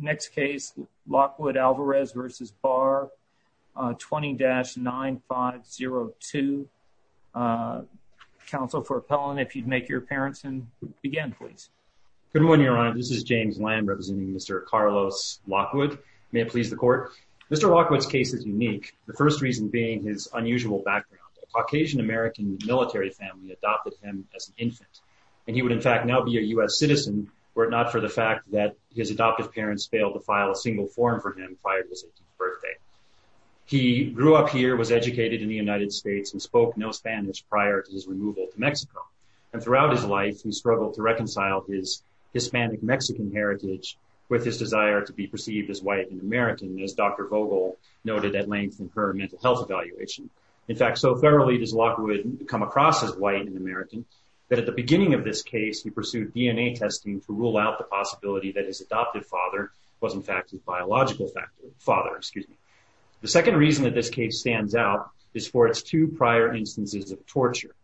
Next case Lockwood Alvarez v. Barr 20-9502. Counsel for appellant if you'd make your appearance and begin please. Good morning your honor this is James Lamb representing Mr. Carlos Lockwood may it please the court. Mr. Lockwood's case is unique the first reason being his unusual background a Caucasian American military family adopted him as an infant and he would in fact now be a U.S. citizen were not for the fact that his adoptive parents failed to file a single form for him prior to his 18th birthday. He grew up here was educated in the United States and spoke no Spanish prior to his removal to Mexico and throughout his life he struggled to reconcile his Hispanic Mexican heritage with his desire to be perceived as white and American as Dr. Vogel noted at length in her mental health evaluation. In fact so thoroughly does Lockwood come across as white and American that at the beginning of this case he pursued DNA testing to rule out the possibility that his adoptive father was in fact his biological father excuse me. The second reason that this case stands out is for its two prior instances of torture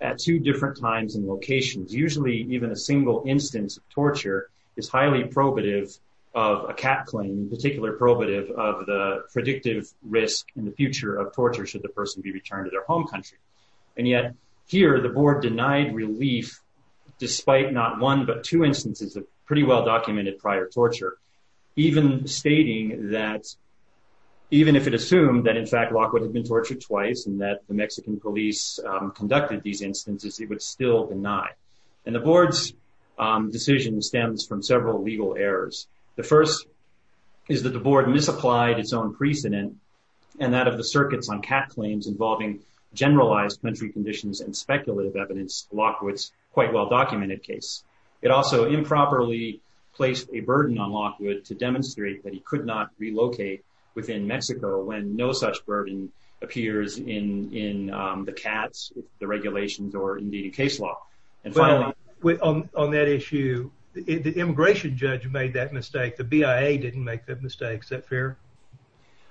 at two different times and locations usually even a single instance of torture is highly probative of a cat claim in particular probative of the predictive risk in the future of torture should the person be returned to their home country and yet here the board denied relief despite not one but two instances of pretty well documented prior torture even stating that even if it assumed that in fact Lockwood had been tortured twice and that the Mexican police conducted these instances it would still deny and the board's decision stems from several legal errors. The first is that the board misapplied its own precedent and that of the circuits on cat claims involving generalized country conditions and speculative evidence Lockwood's quite well documented case. It also improperly placed a burden on Lockwood to demonstrate that he could not relocate within Mexico when no such burden appears in the cats the regulations or indeed in case law. And finally on that issue the immigration judge made that mistake the BIA didn't make that mistake. Is that fair?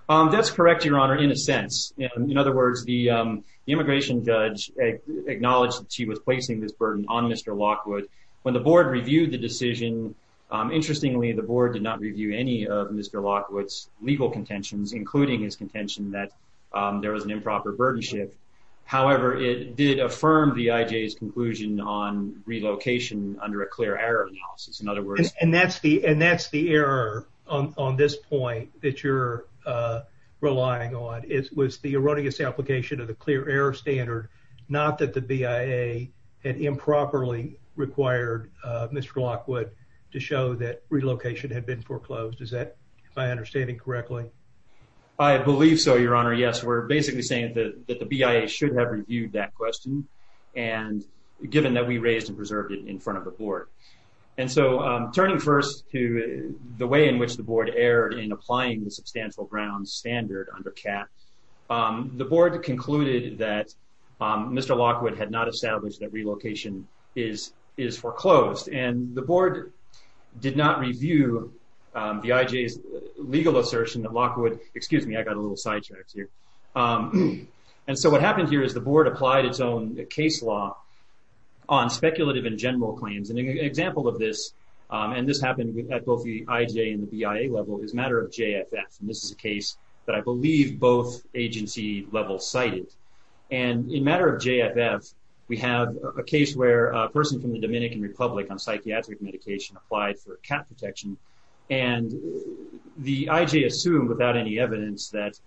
That's correct your honor in a sense in other words the immigration judge acknowledged she was placing this burden on Mr. Lockwood when the board reviewed the decision interestingly the board did not review any of Mr. Lockwood's legal contentions including his contention that there was an improper burden shift however it did affirm the IJ's conclusion on relocation under a clear error analysis in other words and that's the and that's the error on this point that you're relying on it was the erroneous application of the clear error standard not that the BIA had improperly required Mr. Lockwood to show that relocation had been foreclosed is that my understanding correctly? I believe so your honor yes we're basically saying that the BIA should have reviewed that question and given that we raised and preserved it in front of the board and so turning first to the way in which the board erred in applying the substantial grounds standard under CAT the board concluded that Mr. Lockwood had not established that relocation is is foreclosed and the board did not review the IJ's legal assertion that Lockwood excuse me I got a little sidetracked here and so what happened here is the board applied its own case law on speculative and general claims and an example of this and this happened with at both the IJ and the BIA level is matter of JFF and this is a case that I believe both agency levels cited and in matter of JFF we have a case where a person from the Dominican Republic on psychiatric medication applied for a cat protection and the IJ assumed without any evidence that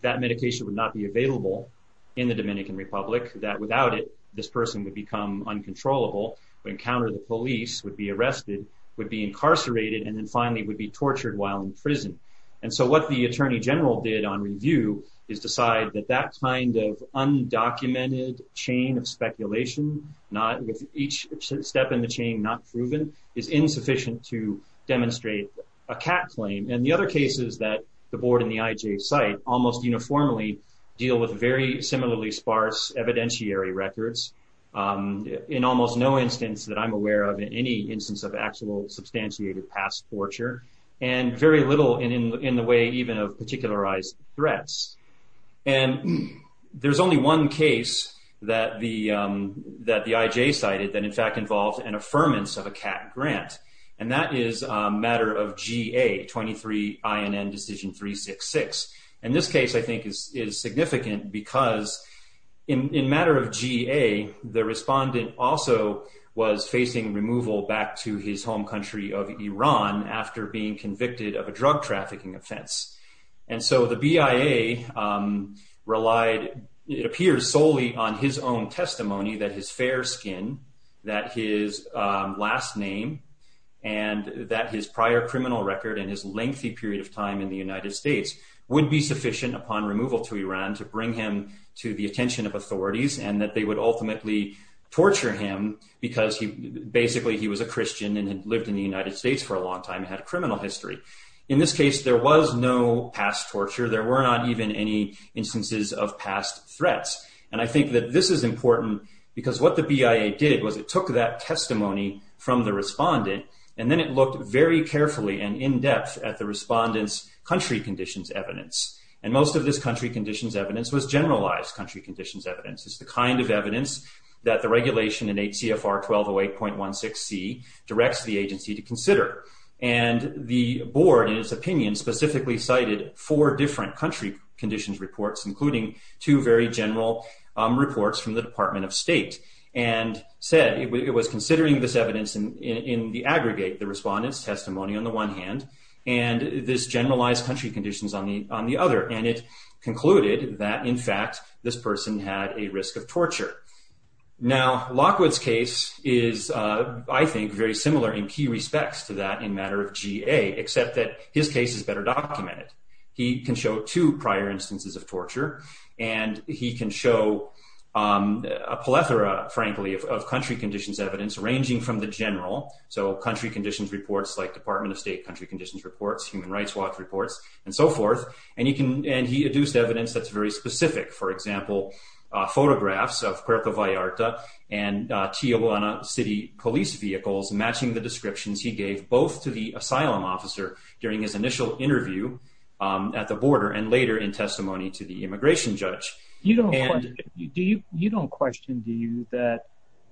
that medication would not be available in the Dominican Republic that without it this person would become uncontrollable would encounter the police would be arrested would be incarcerated and then finally would be tortured while in prison and so what the attorney general did on review is decide that that kind of undocumented chain of speculation not with each step in the chain not proven is insufficient to demonstrate a cat claim and the other cases that the board in the IJ site almost uniformly deal with very similarly sparse evidentiary records in almost no instance that I'm aware of in any instance of actual substantiated past torture and very little in in the way even of particularized threats and there's only one case that the that the IJ cited that in fact involved an affirmance of a cat grant and that is a matter of GA 23 INN decision 366 and this case I think is is significant because in matter of GA the respondent also was facing removal back to his home country of Iran after being convicted of a drug trafficking offense and so the BIA relied it appears solely on his own testimony that his fair skin that his last name and that his prior criminal record and his lengthy period of time in the United States would be sufficient upon removal to Iran to bring him to the attention of authorities and that they would ultimately torture him because he basically he was a Christian and had lived in the United States for a long time had a criminal history in this case there was no past torture there were not even any instances of past threats and I think that this is important because what the BIA did was it took that testimony from the respondent and then it looked very carefully and in-depth at the respondents country conditions evidence and most of this country conditions evidence was generalized country conditions evidence is the kind of evidence that the regulation in HCFR 1208.16c directs the agency to consider and the board in its opinion specifically cited four different country conditions reports including two very general reports from the Department of State and said it was considering this evidence and in the aggregate the respondents testimony on the one hand and this generalized country conditions on the on the other and it concluded that in fact this person had a risk of torture now Lockwood's case is I think very similar in key respects to that in matter of GA except that his case is better documented he can show two prior instances of torture and he can show a plethora frankly of country conditions evidence ranging from the general so country conditions reports like Department of State country conditions reports human rights watch reports and so forth and you can and he adduced evidence that's very specific for example photographs of Puerto Vallarta and Tijuana City police vehicles matching the descriptions he gave both to the asylum officer during his initial interview at the border and later in testimony to the immigration judge you don't you do you you don't question do you that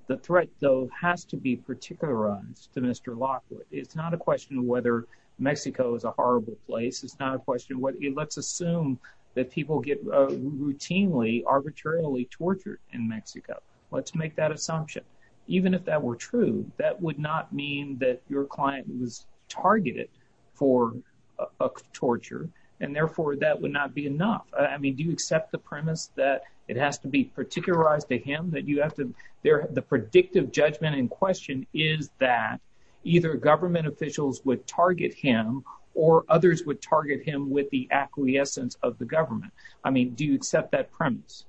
the threat though has to be particular runs to Mr. Lockwood it's not a question whether Mexico is a horrible place it's not a question what it let's assume that people get routinely arbitrarily tortured in Mexico let's make that assumption even if that were true that would not mean that your client was targeted for a torture and therefore that would not be enough I mean do you accept the premise that it has to be particular eyes to him that you have to there the predictive judgment in question is that either government officials would target him or others would target him with the acquiescence of the government I mean do you accept that premise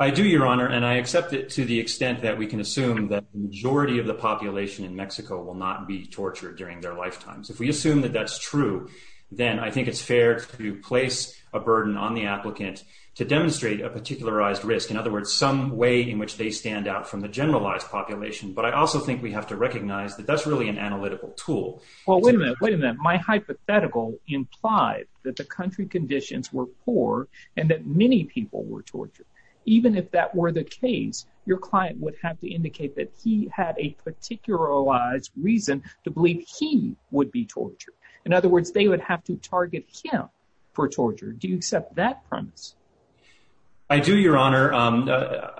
I do your honor and I accept it to the extent that we can assume that majority of the population in Mexico will not be tortured during their lifetimes if we assume that that's true then I think it's fair to place a burden on the applicant to demonstrate a particularized risk in other words some way in which they stand out from the generalized population but I also think we have to recognize that that's really an analytical tool well wait a minute wait a minute my hypothetical implied that the country conditions were poor and that many people were tortured even if that were the case your client would have to indicate that he had a particularized reason to believe he would be tortured in other words they would have to target him for torture do you accept that premise I do your honor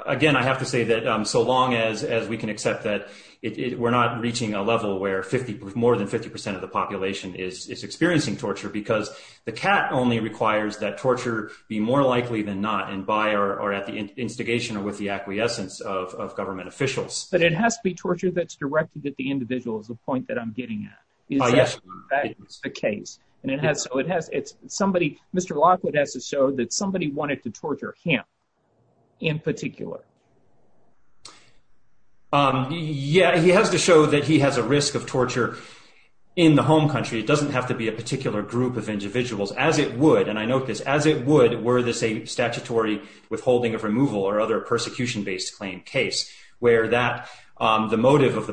again I have to say that so long as as we can accept that it we're not reaching a level where 50 more than 50% of the population is experiencing torture because the cat only requires that torture be more likely than not and by or at the instigation or with the acquiescence of government officials but it has to be torture that's directed at the individual is the point that I'm getting at the case and it has so it has it's somebody mr. Lockwood has to show that somebody wanted to torture him in particular yeah he has to show that he has a risk of torture in the home country it doesn't have to be a particular group of individuals as it would and I note this as it would were this a statutory withholding of removal or other of the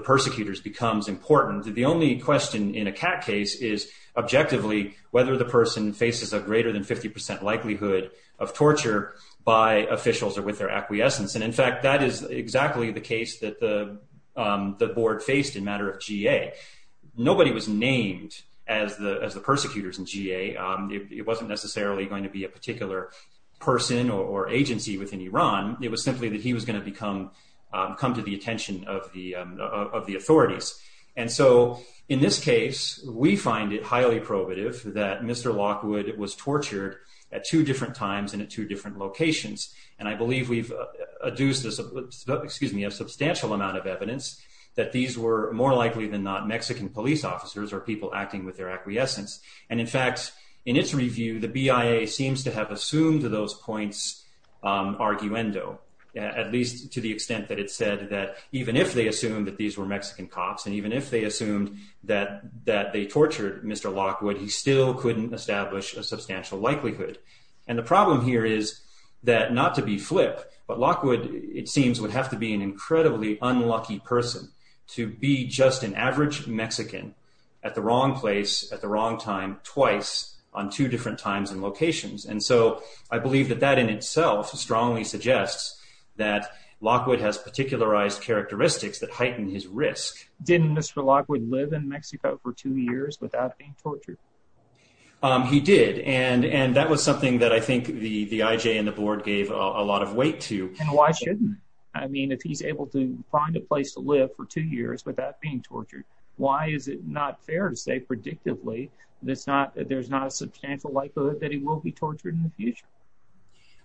persecutors becomes important the only question in a cat case is objectively whether the person faces a greater than 50% likelihood of torture by officials or with their acquiescence and in fact that is exactly the case that the the board faced in matter of GA nobody was named as the as the persecutors in GA it wasn't necessarily going to be a particular person or agency within Iran it was simply that he was going to become come to the attention of the of the authorities and so in this case we find it highly probative that mr. Lockwood was tortured at two different times and at two different locations and I believe we've adduced this excuse me a substantial amount of evidence that these were more likely than not Mexican police officers or people acting with arguendo at least to the extent that it said that even if they assumed that these were Mexican cops and even if they assumed that that they tortured mr. Lockwood he still couldn't establish a substantial likelihood and the problem here is that not to be flip but Lockwood it seems would have to be an incredibly unlucky person to be just an average Mexican at the wrong place at the wrong time twice on two different times and locations and so I believe that that in itself strongly suggests that Lockwood has particularized characteristics that heighten his risk didn't mr. Lockwood live in Mexico for two years without being tortured he did and and that was something that I think the the IJ and the board gave a lot of weight to and why shouldn't I mean if he's able to find a place to live for two years without being tortured why is it not fair to say predictably that's not there's not a substantial likelihood that he will be tortured in the future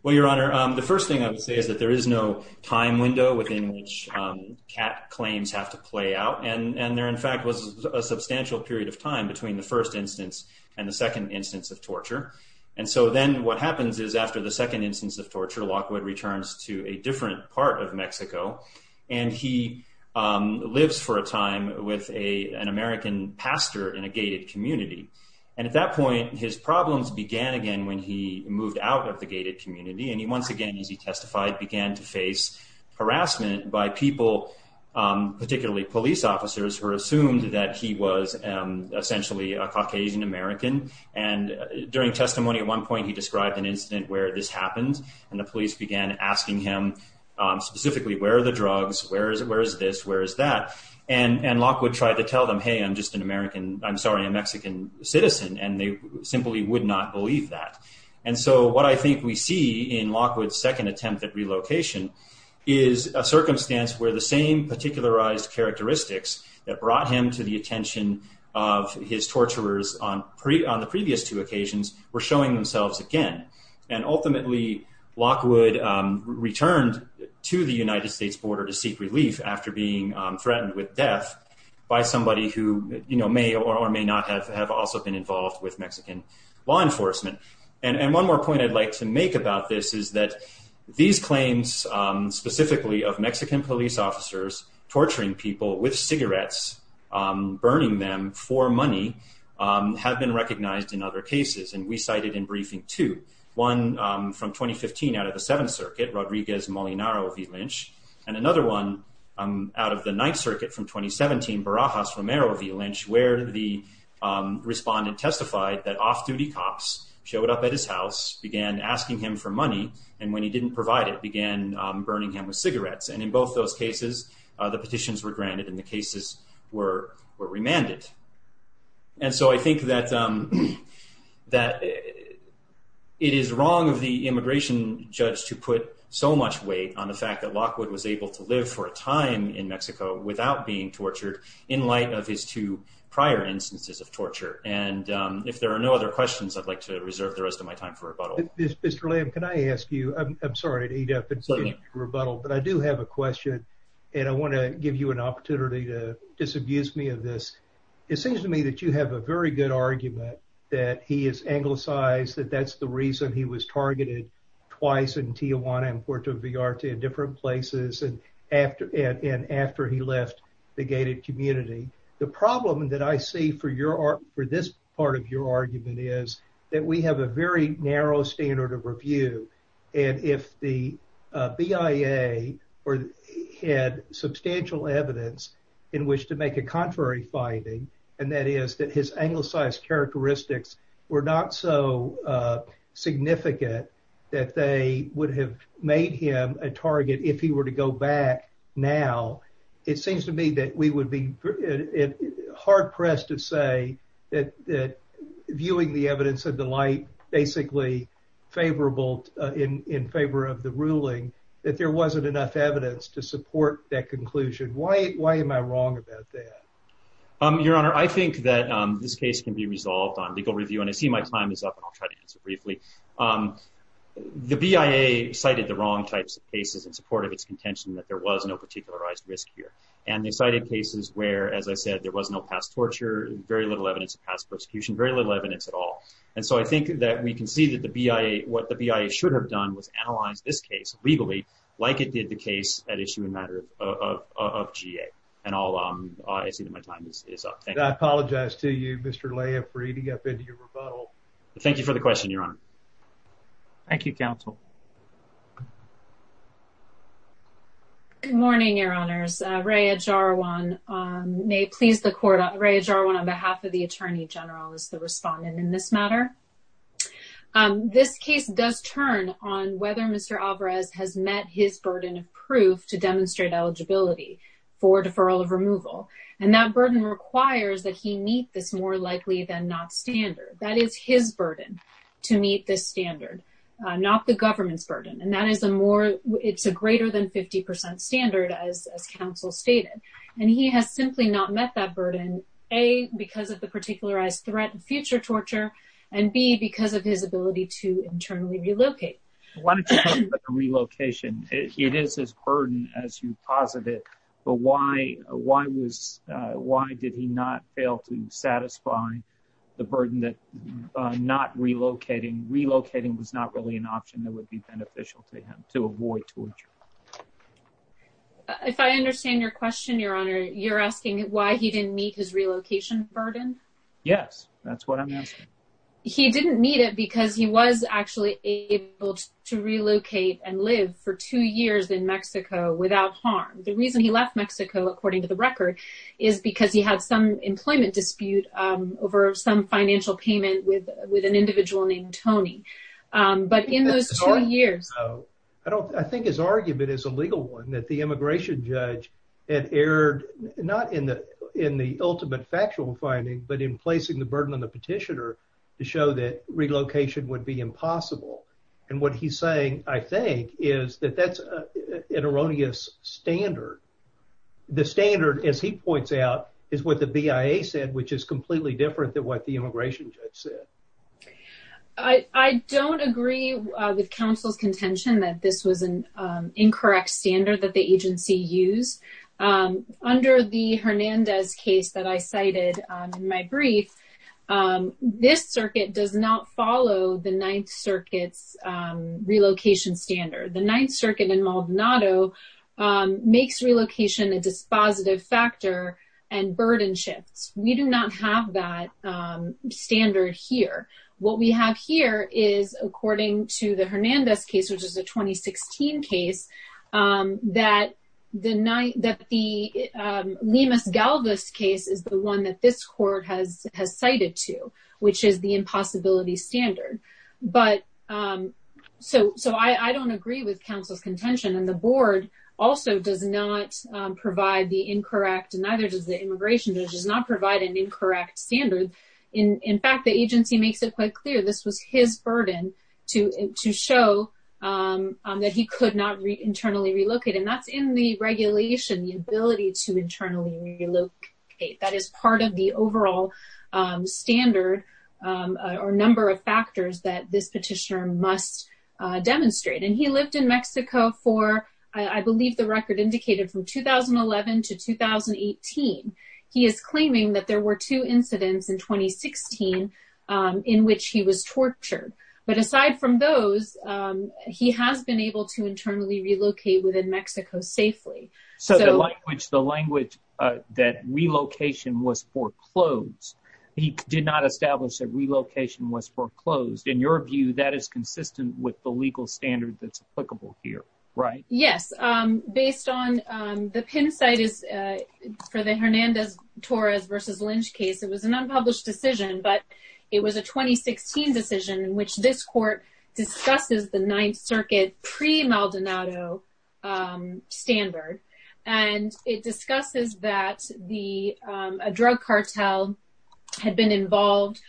well your honor the first thing I would say is that there is no time window within which cat claims have to play out and and there in fact was a substantial period of time between the first instance and the second instance of torture and so then what happens is after the second instance of torture Lockwood returns to a different part of Mexico and he lives for a time with a an American pastor in a gated community and at that point his problems began again when he moved out of the gated community and he once again as he testified began to face harassment by people particularly police officers who assumed that he was essentially a Caucasian American and during testimony at one point he described an incident where this happens and the police began asking him specifically where are the drugs where is it where is this where is that and and Lockwood tried to tell them hey I'm just an American I'm sorry a Mexican citizen and they simply would not believe that and so what I think we see in Lockwood's second attempt at relocation is a circumstance where the same particularized characteristics that brought him to the attention of his torturers on pre on the previous two occasions were showing themselves again and ultimately Lockwood returned to the United States border to seek relief after being threatened with death by somebody who you know may or may not have have also been involved with Mexican law enforcement and and one more point I'd like to make about this is that these claims specifically of Mexican police officers torturing people with cigarettes burning them for money have been recognized in other cases and we cited in briefing to one from 2015 out of the Seventh Circuit Rodriguez Molinaro v. Lynch and another one out of the Ninth Circuit from 2017 Barajas Romero v. Lynch where the respondent testified that off-duty cops showed up at his house began asking him for money and when he didn't provide it began burning him with cigarettes and in both those cases the petitions were granted and the cases were were remanded and so I think that that it is wrong of the immigration judge to put so much weight on the fact that Lockwood was able to live for a time in Mexico without being tortured in light of his two prior instances of torture and if there are no other questions I'd like to reserve the rest of my time for rebuttal. Mr. Lamb, can I ask you I'm sorry to eat up and say rebuttal but I do have a question and I want to give you an opportunity to disabuse me of this it seems to me that you have a very good argument that he is anglicized that that's the reason he was targeted twice in Tijuana and Puerto Vallarta in different places and after and after he left the gated community the problem that I see for your art for this part of your argument is that we have a very narrow standard of review and if the BIA or had substantial evidence in which to make a contrary finding and that is that his anglicized characteristics were not so significant that they would have made him a target if he were to go back now it seems to me that we would be hard-pressed to say that that viewing the evidence of the light basically favorable in in favor of the ruling that there wasn't enough evidence to support that conclusion why why am I wrong about that um your honor I think that this case can be resolved on legal review and I see my time is up briefly the BIA cited the wrong types of cases in support of its contention that there was no particularized risk here and they cited cases where as I said there was no past torture very little evidence of past persecution very little evidence at all and so I think that we can see that the BIA what the BIA should have done was analyze this case legally like it did the case at issue a matter of GA and all I see that my time is up thank you I apologize to you mr. thank you for the question your honor thank you counsel good morning your honors Raya Jarwan may please the court Raya Jarwan on behalf of the Attorney General is the respondent in this matter this case does turn on whether mr. Alvarez has met his burden of proof to demonstrate eligibility for deferral of removal and that burden requires that he meet this more likely than not standard that is his burden to meet this standard not the government's burden and that is a more it's a greater than 50% standard as counsel stated and he has simply not met that burden a because of the particularized threat and future torture and be because of his ability to internally relocate relocation it is his burden as you posit it but why why was why did he not fail to satisfy the burden that not relocating relocating was not really an option that would be beneficial to him to avoid torture if I understand your question your honor you're asking why he didn't meet his to relocate and live for two years in Mexico without harm the reason he left Mexico according to the record is because he had some employment dispute over some financial payment with with an individual named Tony but in those two years I don't I think his argument is a legal one that the immigration judge had erred not in the in the ultimate factual finding but in placing the saying I think is that that's an erroneous standard the standard as he points out is what the BIA said which is completely different than what the immigration judge said I I don't agree with counsel's contention that this was an incorrect standard that the agency used under the Hernandez case that I cited in my brief this circuit does not follow the Ninth Circuit's relocation standard the Ninth Circuit in Maldonado makes relocation a dispositive factor and burden shifts we do not have that standard here what we have here is according to the Hernandez case which is a 2016 case that the night that the Lemus Galvez case is the one that this court has has cited to which is the impossibility standard but so so I I don't agree with counsel's contention and the board also does not provide the incorrect and neither does the immigration judge does not provide an incorrect standard in in fact the agency makes it quite clear this was his burden to show that he could not read internally relocate and that's in the of the overall standard or number of factors that this petitioner must demonstrate and he lived in Mexico for I believe the record indicated from 2011 to 2018 he is claiming that there were two incidents in 2016 in which he was tortured but aside from those he has been able to internally relocate within Mexico safely so the language the language that relocation was foreclosed he did not establish that relocation was foreclosed in your view that is consistent with the legal standard that's applicable here right yes based on the pin site is for the Hernandez Torres versus Lynch case it was an unpublished decision but it was a 2016 decision in which this court discusses the Ninth Circuit pre Maldonado standard and it discusses that the drug cartel had been involved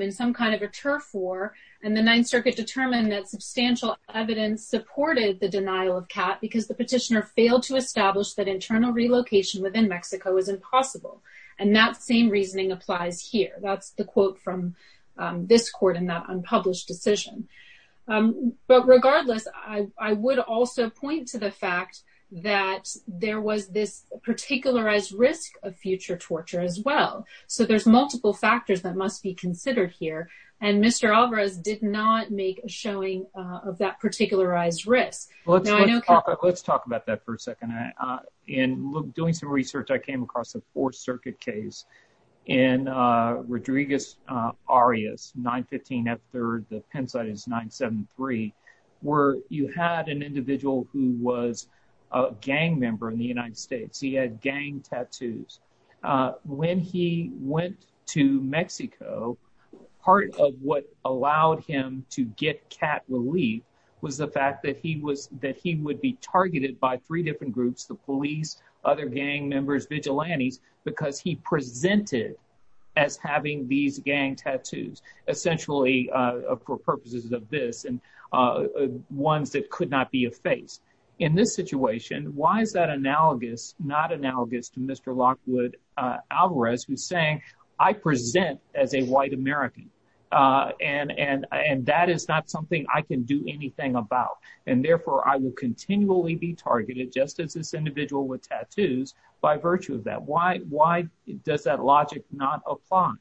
in some kind of a turf war and the Ninth Circuit determined that substantial evidence supported the denial of cat because the petitioner failed to establish that internal relocation within Mexico is impossible and that same reasoning applies here that's the quote from this court in that unpublished decision but regardless I would also point to the fact that there was this particular as risk of future torture as well so there's multiple factors that must be considered here and mr. Alvarez did not make a showing of that particular eyes risk let's talk about that for a 973 where you had an individual who was a gang member in the United States he had gang tattoos when he went to Mexico part of what allowed him to get cat relief was the fact that he was that he would be targeted by three different groups the police other gang members vigilantes because he for purposes of this and ones that could not be a face in this situation why is that analogous not analogous to mr. Lockwood Alvarez who's saying I present as a white American and and and that is not something I can do anything about and therefore I will continually be targeted just as this individual with tattoos by virtue of that why why does that logic not apply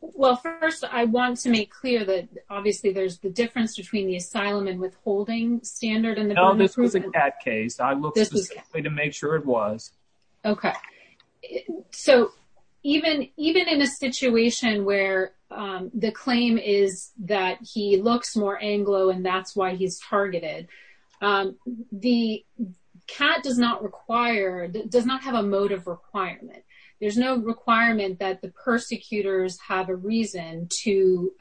well first I want to make clear that obviously there's the difference between the asylum and withholding standard and this was a cat case I look this way to make sure it was okay so even even in a situation where the claim is that he looks more Anglo and that's why he's targeted the cat does not require that does not have a motive requirement there's no requirement that the persecutors have a reason to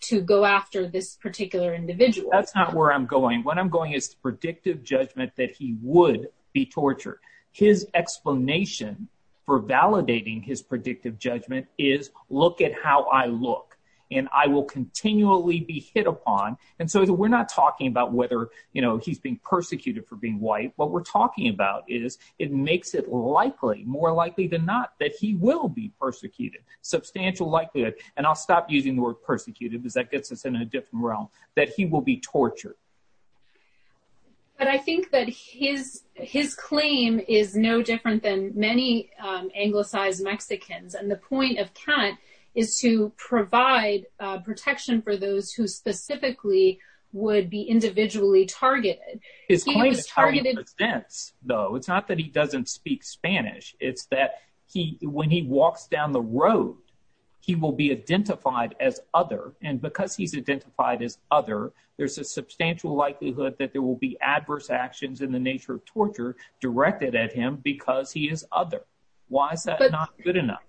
to go after this particular individual that's not where I'm going what I'm going is predictive judgment that he would be tortured his explanation for validating his predictive judgment is look at how I look and I will continually be hit upon and so we're not talking about whether you know he's being persecuted for being white what we're talking about is it makes it likely more likely than not that he will be persecuted substantial likelihood and I'll stop using the word persecuted is that gets us in a different realm that he will be tortured but I think that his his claim is no different than many anglicized Mexicans and the point of cat is to provide protection for those who specifically would be individually targeted is targeted events though it's not that he doesn't speak Spanish it's that he when he walks down the road he will be identified as other and because he's identified as other there's a substantial likelihood that there will be adverse actions in the nature of torture directed at him because he is other why is that not good enough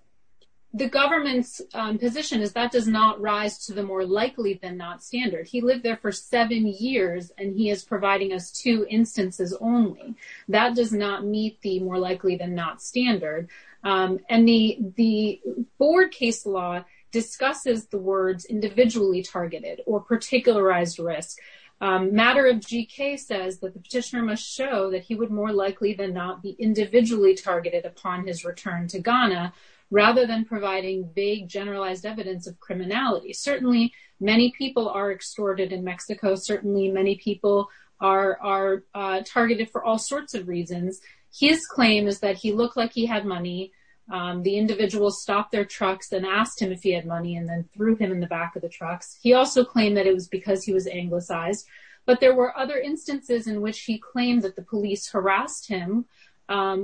the government's position is that does not rise to the more likely than not standard he lived there for seven years and he is providing us two instances only that does not meet the more likely than not standard and the the board case law discusses the words individually targeted or particularized risk matter of GK says that the petitioner must show that he would more likely than not be individually targeted upon his return to Ghana rather than providing vague generalized evidence of criminality certainly many people are extorted in Mexico certainly many people are targeted for all sorts of reasons his claim is that he looked like he had money the individual stopped their trucks and asked him if he had money and then threw him in the back of the trucks he also claimed that it was because he was anglicized but there were other instances in which he claimed that the police harassed him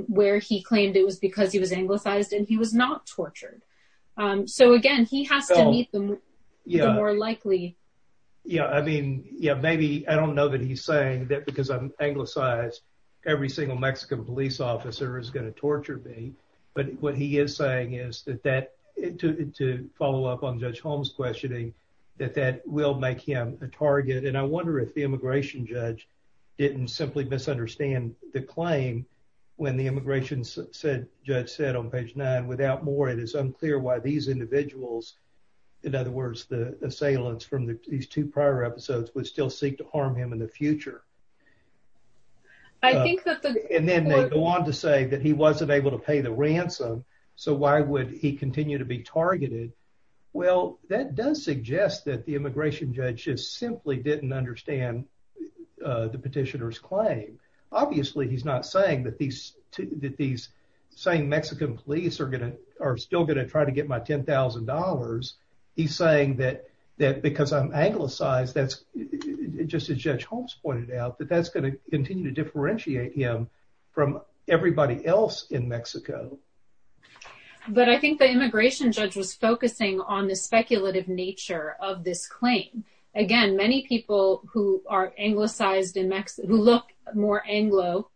where he claimed it was because he was anglicized and he was not tortured so again more likely yeah I mean yeah maybe I don't know that he's saying that because I'm anglicized every single Mexican police officer is going to torture me but what he is saying is that that to follow up on judge Holmes questioning that that will make him a target and I wonder if the immigration judge didn't simply misunderstand the claim when the immigration said judge said on page nine without more it is unclear why these individuals in other words the assailants from these two prior episodes would still seek to harm him in the future I think and then they go on to say that he wasn't able to pay the ransom so why would he continue to be targeted well that does suggest that the immigration judge just simply didn't understand the petitioners claim obviously he's not saying that these that these same Mexican police are gonna are still going to try to get my $10,000 he's saying that that because I'm anglicized that's just as judge Holmes pointed out that that's going to continue to differentiate him from everybody else in Mexico but I think the immigration judge was focusing on the speculative nature of this claim again many people who are anglicized in Mexico look more Anglo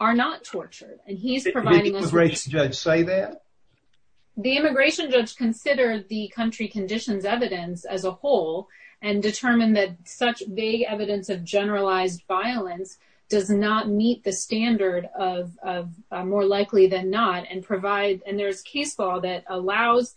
are not tortured and he's providing a race judge say that the immigration judge considered the country conditions evidence as a whole and determined that such vague evidence of generalized violence does not meet the standard of more likely than not and provide and there's case law that allows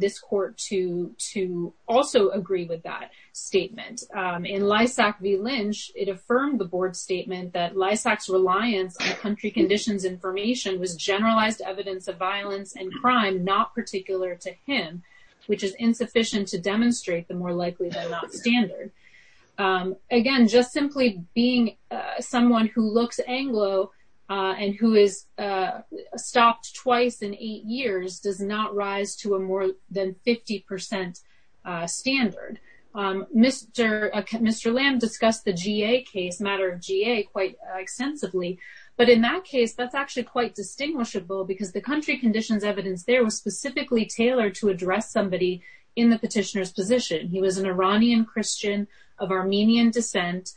this court to to also agree with that statement in Lysak v. Lynch it affirmed the board statement that Lysak's reliance on country conditions information was generalized evidence of violence and crime not particular to him which is insufficient to demonstrate the more likely than not standard again just simply being someone who looks Anglo and who is stopped twice in eight years does not rise to a more than 50% standard mr. mr. lamb discussed the GA case matter of GA quite extensively but in that case that's actually quite distinguishable because the country conditions evidence there was specifically tailored to address somebody in the petitioner's position he was an Iranian Christian of Armenian descent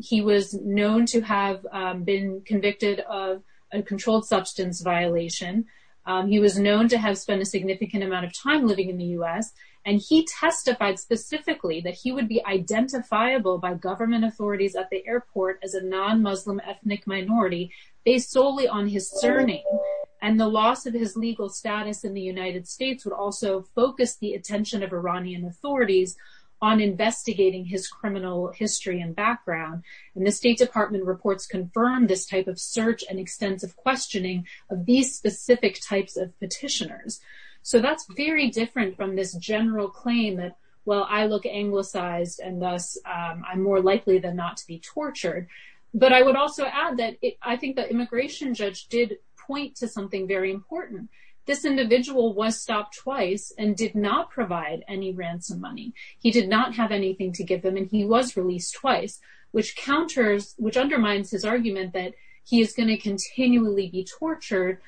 he was known to have been convicted of a controlled substance violation he was known to have spent a significant amount of time living in the u.s. and he testified specifically that he would be identifiable by government authorities at the airport as a non-muslim ethnic minority based solely on his surname and the loss of his legal status in the United States would also focus the attention of Iranian authorities on investigating his criminal history and background and the state department reports confirmed this type of search and extensive questioning of these specific types of petitioners so that's very different from this general claim that well I look anglicized and thus I'm more likely than not to be tortured but I would also add that I think the immigration judge did point to something very important this individual was stopped twice and did not provide any ransom money he did not have anything to give them and he was released twice which counters which undermines his argument that he is going to continually be tortured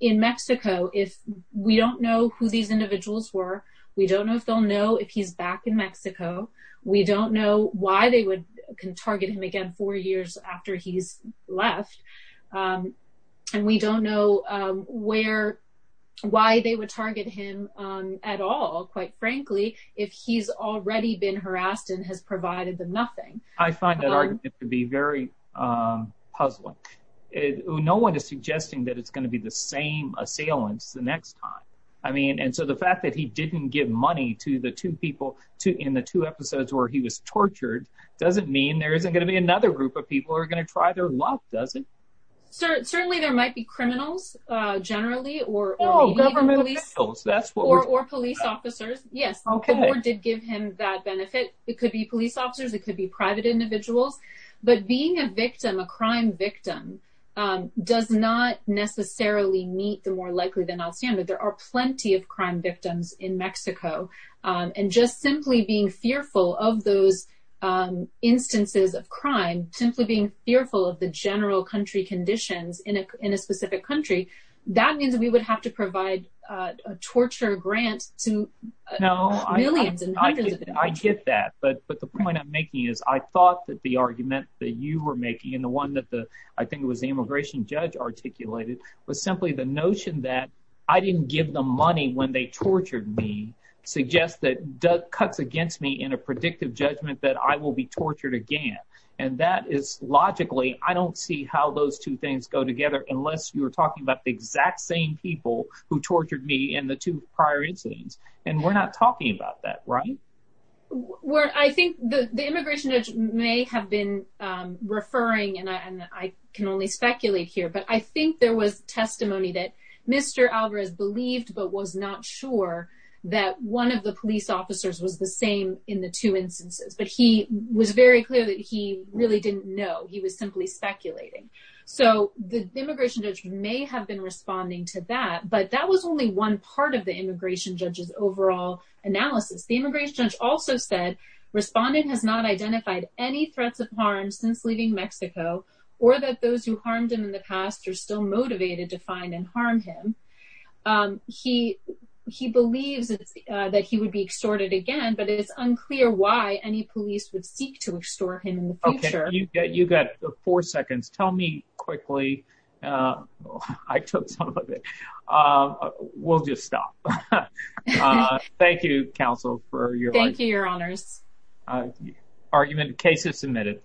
in Mexico if we don't know who these individuals were we don't know if they'll know if he's back in Mexico we don't know why they would can target him again four years after he's left and we don't know where why they would target him at all quite frankly if he's already been harassed and has provided them nothing I find that argument to be very puzzling no one is suggesting that it's going to be the same assailants the next time I mean and so the fact that he didn't give money to the two people to in the two episodes where he was tortured doesn't mean there isn't going to be another group of people who are going to try their luck does it sir certainly there might be criminals uh generally or oh government officials that's what or police officers yes okay did give him that benefit it could be police officers it could be private individuals but being a victim a crime victim does not necessarily meet the more likely than I'll stand but there are plenty of crime victims in Mexico and just simply being fearful of those instances of crime simply being fearful of the general country conditions in a in a specific country that means we would have to provide a torture grant to no millions and hundreds I get that but but the point I'm making is I thought that the argument that you were making and the one that the I think it was the immigration judge articulated was simply the notion that I didn't give them money when they tortured me suggests that Doug cuts against me in a predictive judgment that I will be tortured again and that is logically I don't see how those two things go together unless you're talking about the exact same people who tortured me in the two prior incidents and we're not talking about that right where I think the the immigration judge may have been um referring and I and I can only speculate here but I think there was testimony that Mr. Alvarez believed but was not sure that one of the police officers was the same in the two instances but he was very clear that he really didn't know he was simply speculating so the immigration judge may have been responding to that but that was only one part of the immigration judge's overall analysis the immigration judge also said responding has not identified any threats of harm since leaving Mexico or that those who harmed him in the past are still motivated to find and harm him um he he believes that he would be extorted again but it's unclear why any police would seek to extort him in the we'll just stop uh thank you counsel for your thank you your honors argument case is submitted